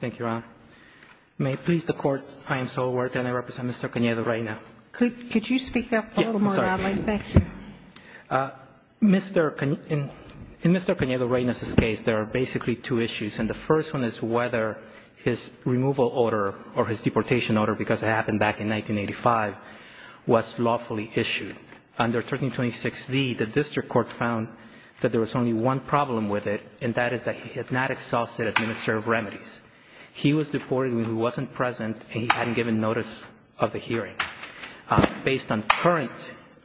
Thank you, Your Honor. May it please the Court, I am Saul Huerta and I represent Mr. Canedo-Reyna. Could you speak up a little more, darling? Thank you. In Mr. Canedo-Reyna's case, there are basically two issues, and the first one is whether his removal order or his deportation order, because it happened back in 1985, was lawfully issued. Under 1326d, the district court found that there was only one problem with it, and that is that he had not exhausted administrative remedies. He was deported when he wasn't present and he hadn't given notice of the hearing. Based on current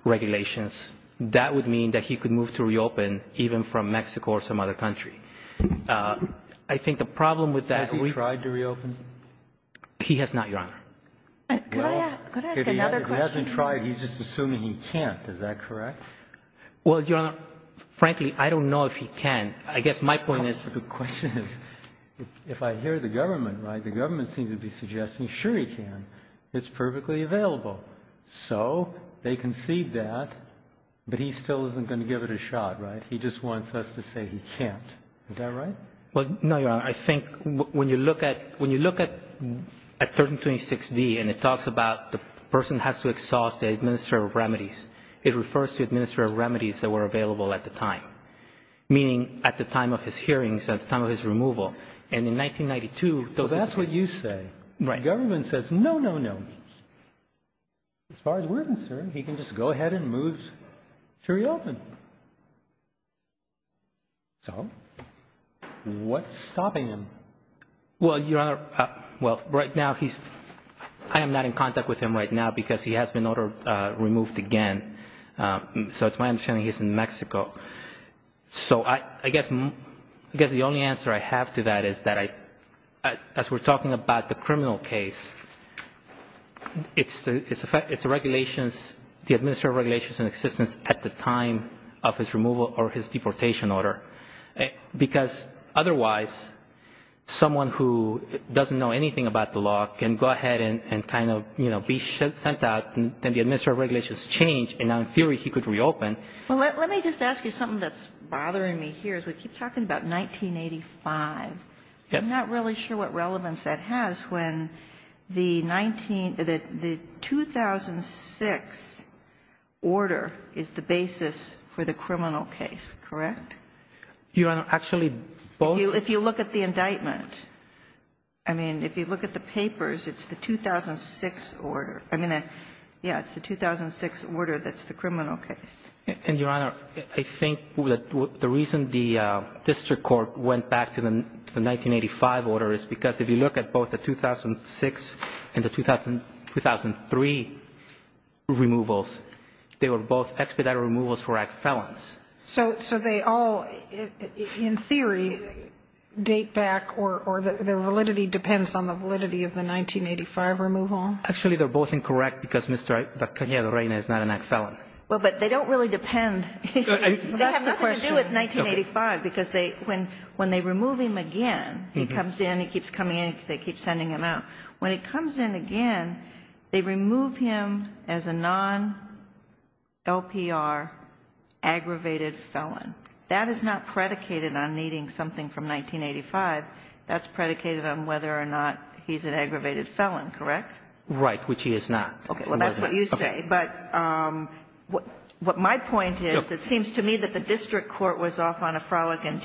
regulations, that would mean that he could move to reopen, even from Mexico or some other country. I think the problem with that is we — Has he tried to reopen? He has not, Your Honor. Could I ask another question? If he hasn't tried, he's just assuming he can't. Is that correct? Well, Your Honor, frankly, I don't know if he can. I guess my point is — The question is, if I hear the government, right, the government seems to be suggesting, sure, he can. It's perfectly available. So they concede that, but he still isn't going to give it a shot, right? He just wants us to say he can't. Is that right? Well, no, Your Honor. I think when you look at — when you look at 1326d and it talks about the person has to exhaust the administrative remedies, it refers to administrative remedies that were available at the time, meaning at the time of his hearings, at the time of his removal. And in 1992 — Well, that's what you say. Right. The government says, no, no, no. As far as we're concerned, he can just go ahead and move to reopen. So what's stopping him? Well, Your Honor, well, right now he's — I am not in contact with him right now because he has been ordered removed again. So it's my understanding he's in Mexico. So I guess the only answer I have to that is that as we're talking about the criminal case, it's the regulations, the administrative regulations in existence at the time of his removal or his deportation order. Because otherwise, someone who doesn't know anything about the law can go ahead and kind of, you know, be sent out. Then the administrative regulations change, and now in theory he could reopen. Well, let me just ask you something that's bothering me here as we keep talking about 1985. Yes. I'm not really sure what relevance that has when the 19 — the 2006 order is the basis for the criminal case, correct? Your Honor, actually both — If you look at the indictment. I mean, if you look at the papers, it's the 2006 order. I mean, yeah, it's the 2006 order that's the criminal case. And, Your Honor, I think the reason the district court went back to the 1985 order is because if you look at both the 2006 and the 2003 removals, they were both expedited removals for act felons. So they all, in theory, date back or the validity depends on the validity of the 1985 removal? Actually, they're both incorrect because Mr. Cajalrena is not an act felon. Well, but they don't really depend. That's the question. They have nothing to do with 1985 because when they remove him again, he comes in, he keeps coming in, they keep sending him out. When he comes in again, they remove him as a non-LPR aggravated felon. That is not predicated on needing something from 1985. That's predicated on whether or not he's an aggravated felon, correct? Right, which he is not. Okay. Well, that's what you say. But what my point is, it seems to me that the district court was off on a frolicking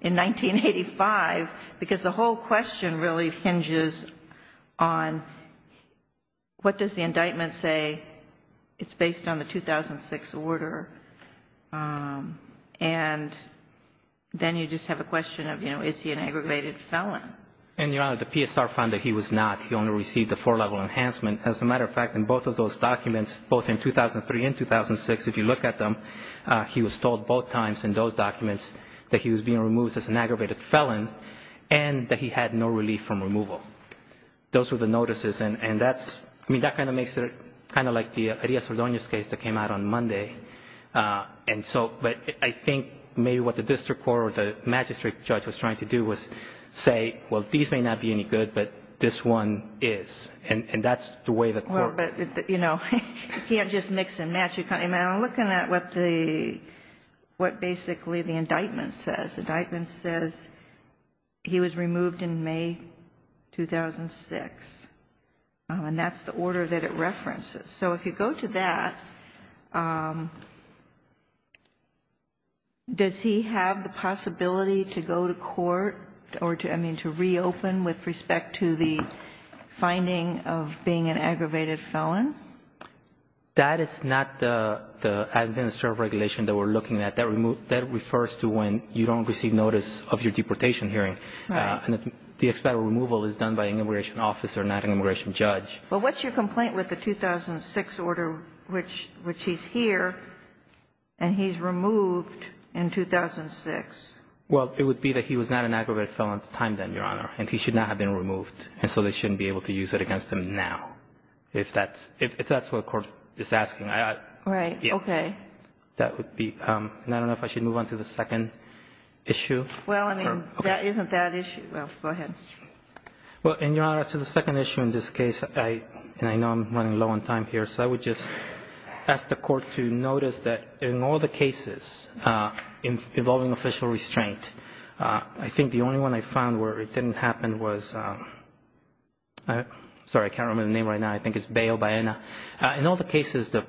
in 1985 because the whole question really hinges on what does the indictment say? It's based on the 2006 order. And then you just have a question of, you know, is he an aggravated felon? And, Your Honor, the PSR found that he was not. He only received a four-level enhancement. As a matter of fact, in both of those documents, both in 2003 and 2006, if you look at them, he was told both times in those documents that he was being removed as an aggravated felon and that he had no relief from removal. Those were the notices. And that kind of makes it kind of like the Arias Ordonez case that came out on Monday. But I think maybe what the district court or the magistrate judge was trying to do was say, well, these may not be any good, but this one is. And that's the way the court ---- You know, you can't just mix and match. I'm looking at what basically the indictment says. The indictment says he was removed in May 2006. And that's the order that it references. So if you go to that, does he have the possibility to go to court or to, I mean, to reopen with respect to the finding of being an aggravated felon? That is not the administrative regulation that we're looking at. That refers to when you don't receive notice of your deportation hearing. Right. And the expedited removal is done by an immigration officer, not an immigration judge. Well, what's your complaint with the 2006 order, which he's here and he's removed in 2006? Well, it would be that he was not an aggravated felon at the time then, Your Honor, and he should not have been removed. And so they shouldn't be able to use it against him now, if that's what the court is asking. Right. Okay. That would be ---- and I don't know if I should move on to the second issue. Well, I mean, that isn't that issue. Go ahead. Well, and, Your Honor, as to the second issue in this case, and I know I'm running low on time here, so I would just ask the Court to notice that in all the cases involving official restraint, I think the only one I found where it didn't happen was ---- sorry, I can't remember the name right now. I think it's Bayo Baena. In all the cases, the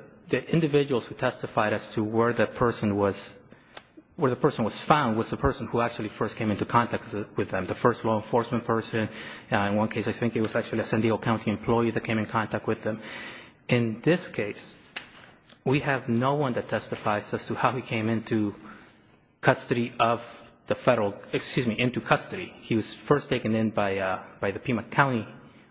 individuals who testified as to where the person was found was the person who actually first came into contact with them, the first law enforcement person. In one case, I think it was actually a San Diego County employee that came in contact with them. In this case, we have no one that testifies as to how he came into custody of the federal ---- excuse me, into custody. He was first taken in by the Pima County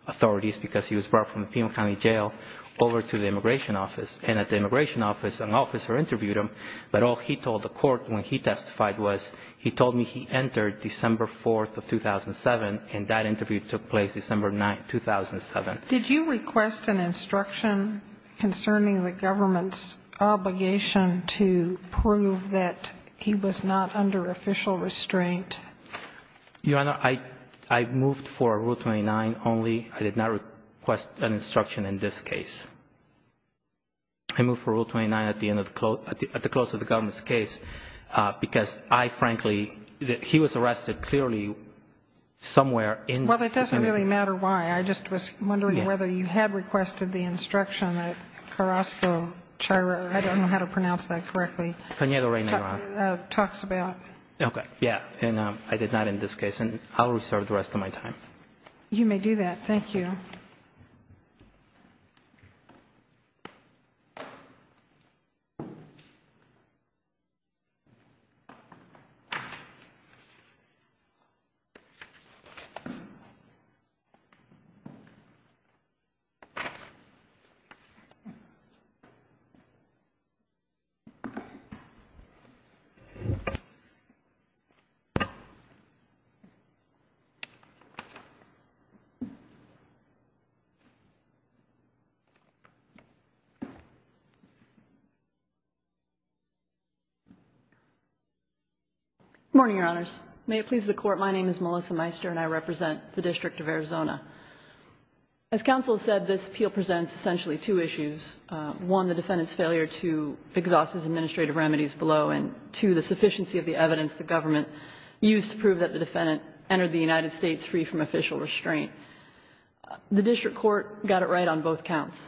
authorities because he was brought from the Pima County jail over to the immigration office. And at the immigration office, an officer interviewed him, but all he told the court when he testified was he told me he entered December 4th of 2007, and that interview took place December 9th, 2007. Did you request an instruction concerning the government's obligation to prove that he was not under official restraint? Your Honor, I moved for Rule 29 only. I did not request an instruction in this case. I moved for Rule 29 at the end of the ---- at the close of the government's case because I frankly ---- he was arrested clearly somewhere in ---- Well, it doesn't really matter why. I just was wondering whether you had requested the instruction that Carrasco, I don't know how to pronounce that correctly, talks about. Okay. Yeah. And I did not in this case. And I'll reserve the rest of my time. You may do that. Thank you. Good morning, Your Honors. May it please the Court, my name is Melissa Meister and I represent the District of Arizona. As counsel said, this appeal presents essentially two issues. One, the defendant's failure to exhaust his administrative remedies below, and two, the sufficiency of the evidence the government used to prove that the defendant entered the United States free from official restraint. The district court got it right on both counts.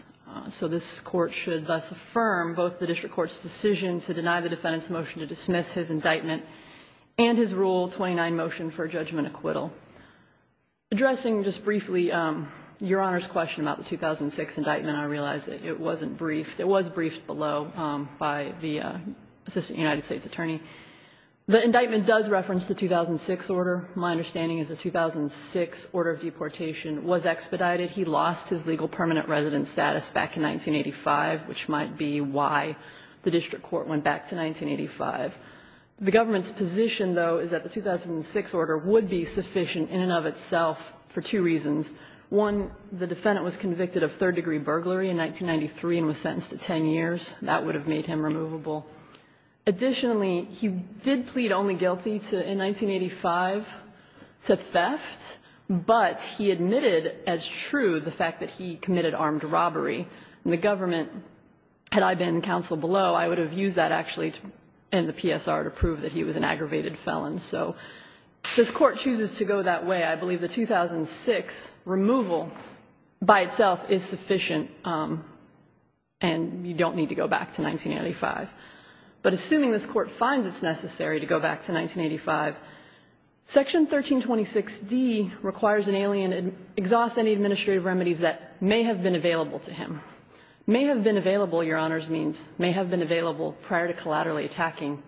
So this court should thus affirm both the district court's decision to deny the defendant's motion to dismiss his indictment and his Rule 29 motion for judgment acquittal. Addressing just briefly Your Honor's question about the 2006 indictment, I realize that it wasn't briefed. It was briefed below by the Assistant United States Attorney. The indictment does reference the 2006 order. My understanding is the 2006 order of deportation was expedited. He lost his legal permanent residence status back in 1985, which might be why the district court went back to 1985. The government's position, though, is that the 2006 order would be sufficient in and of itself for two reasons. One, the defendant was convicted of third-degree burglary in 1993 and was sentenced to 10 years. That would have made him removable. Additionally, he did plead only guilty in 1985 to theft, but he admitted as true the fact that he committed armed robbery. And the government, had I been counsel below, I would have used that actually in the PSR to prove that he was an aggravated felon. So this Court chooses to go that way. I believe the 2006 removal by itself is sufficient, and you don't need to go back to 1985. But assuming this Court finds it's necessary to go back to 1985, Section 1326d requires an alien exhaust any administrative remedies that may have been available to him. May have been available, Your Honors means, may have been available prior to collaterally attacking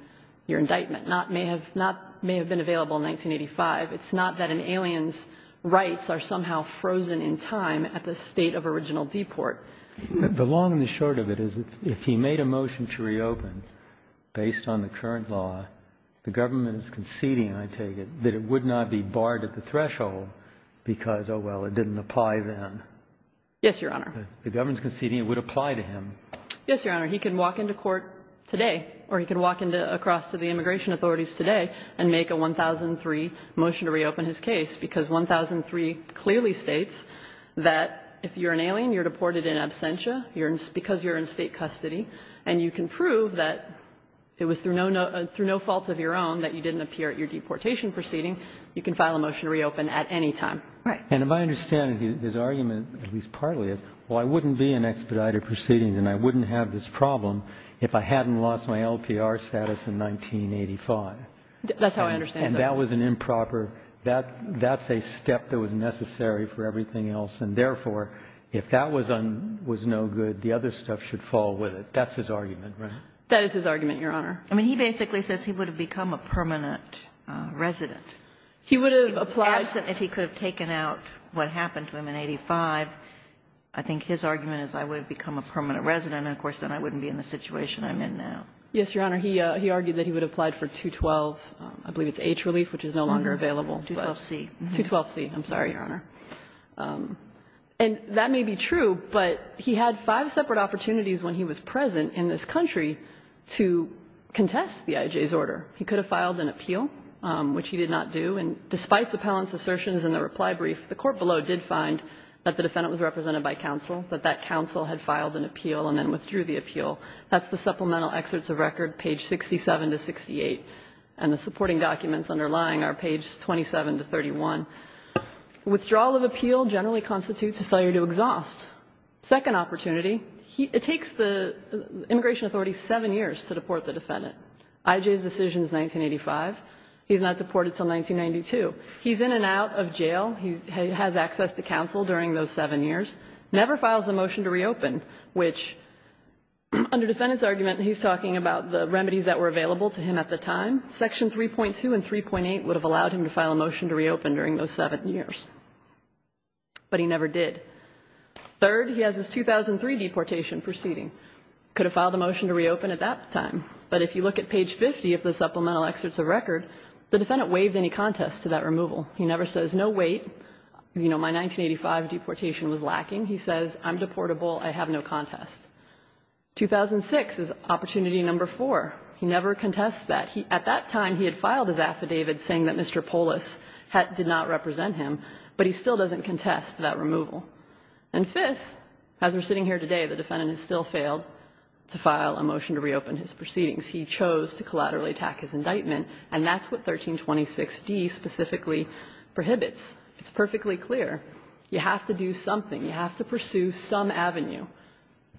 your indictment. Not may have been available in 1985. It's not that an alien's rights are somehow frozen in time at the state of original deport. The long and the short of it is if he made a motion to reopen based on the current law, the government is conceding, I take it, that it would not be barred at the threshold because, oh, well, it didn't apply then. Yes, Your Honor. The government's conceding it would apply to him. Yes, Your Honor. He can walk into court today, or he can walk across to the immigration authorities today and make a 1003 motion to reopen his case, because 1003 clearly states that if you're an alien, you're deported in absentia, because you're in State custody, and you can prove that it was through no fault of your own that you didn't appear at your deportation proceeding, you can file a motion to reopen at any time. Right. And if I understand it, his argument, at least partly, is, well, I wouldn't be in expedited proceedings and I wouldn't have this problem if I hadn't lost my LPR status in 1985. That's how I understand it. And that was an improper – that's a step that was necessary for everything else, and therefore, if that was no good, the other stuff should fall with it. That's his argument, right? That is his argument, Your Honor. I mean, he basically says he would have become a permanent resident. He would have applied – Absent if he could have taken out what happened to him in 1985. I think his argument is I would have become a permanent resident, and of course, then I wouldn't be in the situation I'm in now. Yes, Your Honor. He argued that he would have applied for 212, I believe it's H relief, which is no longer available. 212C. 212C. I'm sorry, Your Honor. And that may be true, but he had five separate opportunities when he was present in this country to contest the IJ's order. He could have filed an appeal, which he did not do. And despite the appellant's assertions in the reply brief, the court below did find that the defendant was represented by counsel, that that counsel had filed an appeal and then withdrew the appeal. That's the supplemental excerpts of record, page 67 to 68. And the supporting documents underlying are page 27 to 31. Withdrawal of appeal generally constitutes a failure to exhaust. Second opportunity, it takes the immigration authority seven years to deport the defendant. IJ's decision is 1985. He's not deported until 1992. He's in and out of jail. He has access to counsel during those seven years, never files a motion to reopen, which under defendant's argument, he's talking about the remedies that were available to him at the time. Section 3.2 and 3.8 would have allowed him to file a motion to reopen during those seven years. But he never did. Third, he has his 2003 deportation proceeding. Could have filed a motion to reopen at that time. But if you look at page 50 of the supplemental excerpts of record, the defendant waived any contest to that removal. He never says, no, wait, you know, my 1985 deportation was lacking. He says, I'm deportable. I have no contest. 2006 is opportunity number four. He never contests that. At that time, he had filed his affidavit saying that Mr. Polis did not represent him, but he still doesn't contest that removal. And fifth, as we're sitting here today, the defendant has still failed to file a motion to reopen his proceedings. He chose to collaterally attack his indictment, and that's what 1326d specifically prohibits. It's perfectly clear. You have to do something. You have to pursue some avenue,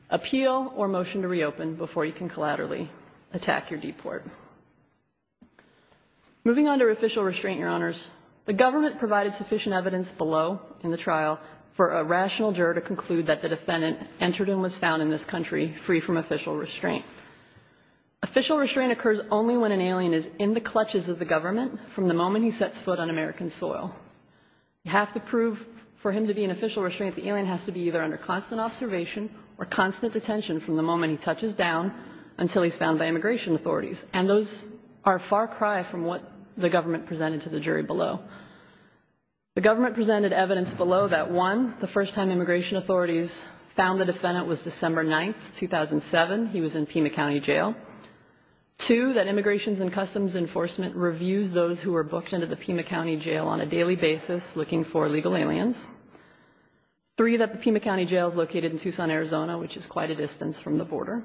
appeal or motion to reopen before you can collaterally attack your deport. Moving on to official restraint, Your Honors, the government provided sufficient evidence below in the trial for a rational juror to conclude that the defendant entered and was found in this country free from official restraint. Official restraint occurs only when an alien is in the clutches of the government from the moment he sets foot on American soil. You have to prove for him to be in official restraint. The alien has to be either under constant observation or constant attention from the moment he touches down until he's found by immigration authorities. And those are far cry from what the government presented to the jury below. The government presented evidence below that, one, the first time immigration authorities found the defendant was December 9th, 2007. He was in Pima County Jail. Two, that Immigration and Customs Enforcement reviews those who are booked into the Pima County Jail on a daily basis looking for legal aliens. Three, that the Pima County Jail is located in Tucson, Arizona, which is quite a distance from the border.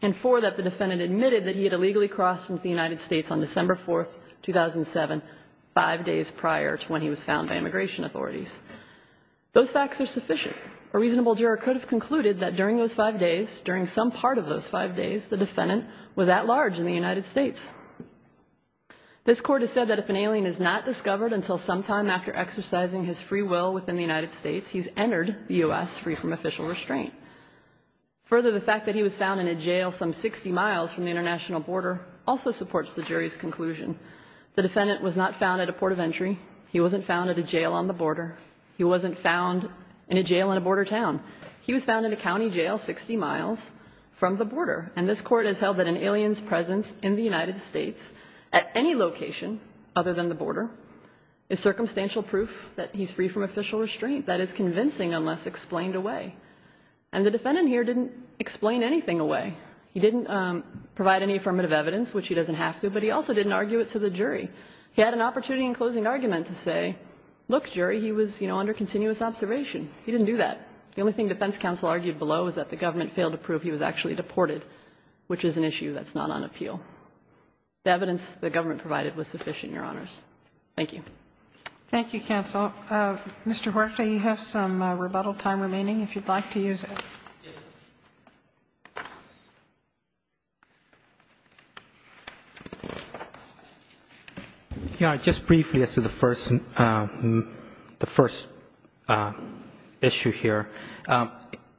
And four, that the defendant admitted that he had illegally crossed into the United States on December 4th, 2007, five days prior to when he was found by immigration authorities. Those facts are sufficient. A reasonable juror could have concluded that during those five days, during some part of those five days, the defendant was at large in the United States. This court has said that if an alien is not discovered until sometime after exercising his free will within the United States, he's entered the U.S. free from official restraint. Further, the fact that he was found in a jail some 60 miles from the international border also supports the jury's conclusion. The defendant was not found at a port of entry. He wasn't found at a jail on the border. He wasn't found in a jail in a border town. He was found in a county jail 60 miles from the border. And this court has held that an alien's presence in the United States at any location other than the border is circumstantial proof that he's free from official restraint. That is convincing unless explained away. And the defendant here didn't explain anything away. He didn't provide any affirmative evidence, which he doesn't have to, but he also didn't argue it to the jury. He had an opportunity in closing argument to say, look, jury, he was, you know, under continuous observation. He didn't do that. The only thing defense counsel argued below is that the government failed to prove he was actually deported, which is an issue that's not on appeal. The evidence the government provided was sufficient, Your Honors. Thank you. Thank you, counsel. Mr. Huerta, you have some rebuttal time remaining if you'd like to use it. Just briefly as to the first issue here.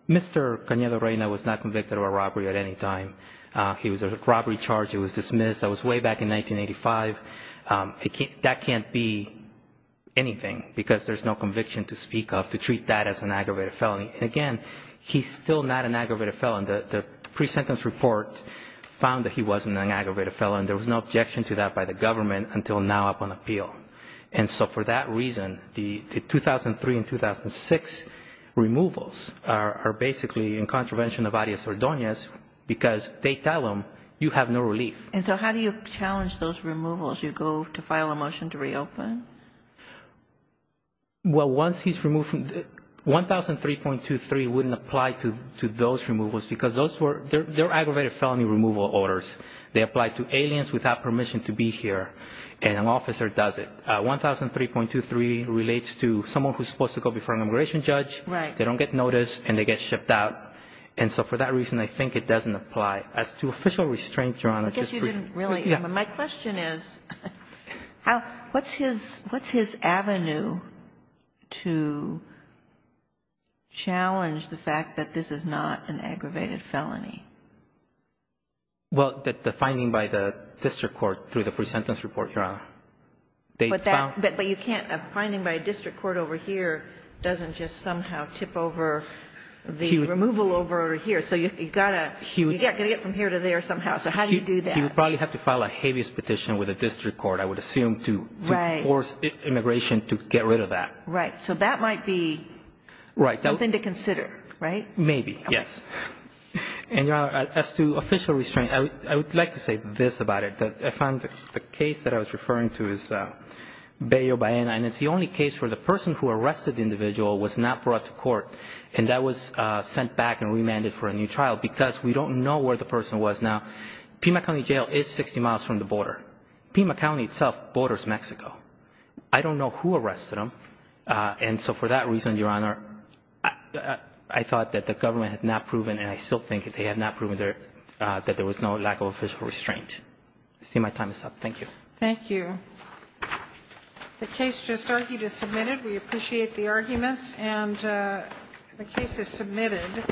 Mr. Canedo-Reyna was not convicted of a robbery at any time. He was a robbery charge. He was dismissed. That was way back in 1985. That can't be anything because there's no conviction to speak of to treat that as an aggravated felony. And again, he's still not an aggravated felon. The pre-sentence report found that he wasn't an aggravated felon. There was no objection to that by the government until now upon appeal. And so for that reason, the 2003 and 2006 removals are basically in contravention of Arias-Ordonez because they tell him you have no relief. And so how do you challenge those removals? You go to file a motion to reopen? Well, once he's removed from the – 1003.23 wouldn't apply to those removals because those were – they're aggravated felony removal orders. They apply to aliens without permission to be here, and an officer does it. 1003.23 relates to someone who's supposed to go before an immigration judge. Right. They don't get noticed, and they get shipped out. And so for that reason, I think it doesn't apply. As to official restraints, Your Honor, just briefly – I guess you didn't really – Yeah. My question is how – what's his – what's his avenue to challenge the fact that this is not an aggravated felony? Well, the finding by the district court through the pre-sentence report, Your Honor. They found – But that – but you can't – a finding by a district court over here doesn't just somehow tip over the removal order here. So you've got to – You've got to get from here to there somehow. So how do you do that? You probably have to file a habeas petition with a district court, I would assume, to force immigration to get rid of that. Right. So that might be something to consider, right? Maybe, yes. Okay. And, Your Honor, as to official restraints, I would like to say this about it. I found the case that I was referring to is Bayo, Bahena, and it's the only case where the person who arrested the individual was not brought to court, and that was I don't know where the person was. Now, Pima County Jail is 60 miles from the border. Pima County itself borders Mexico. I don't know who arrested him. And so for that reason, Your Honor, I thought that the government had not proven, and I still think they had not proven there – that there was no lack of official restraint. I see my time is up. Thank you. Thank you. The case just argued is submitted. We appreciate the arguments. And the case is submitted.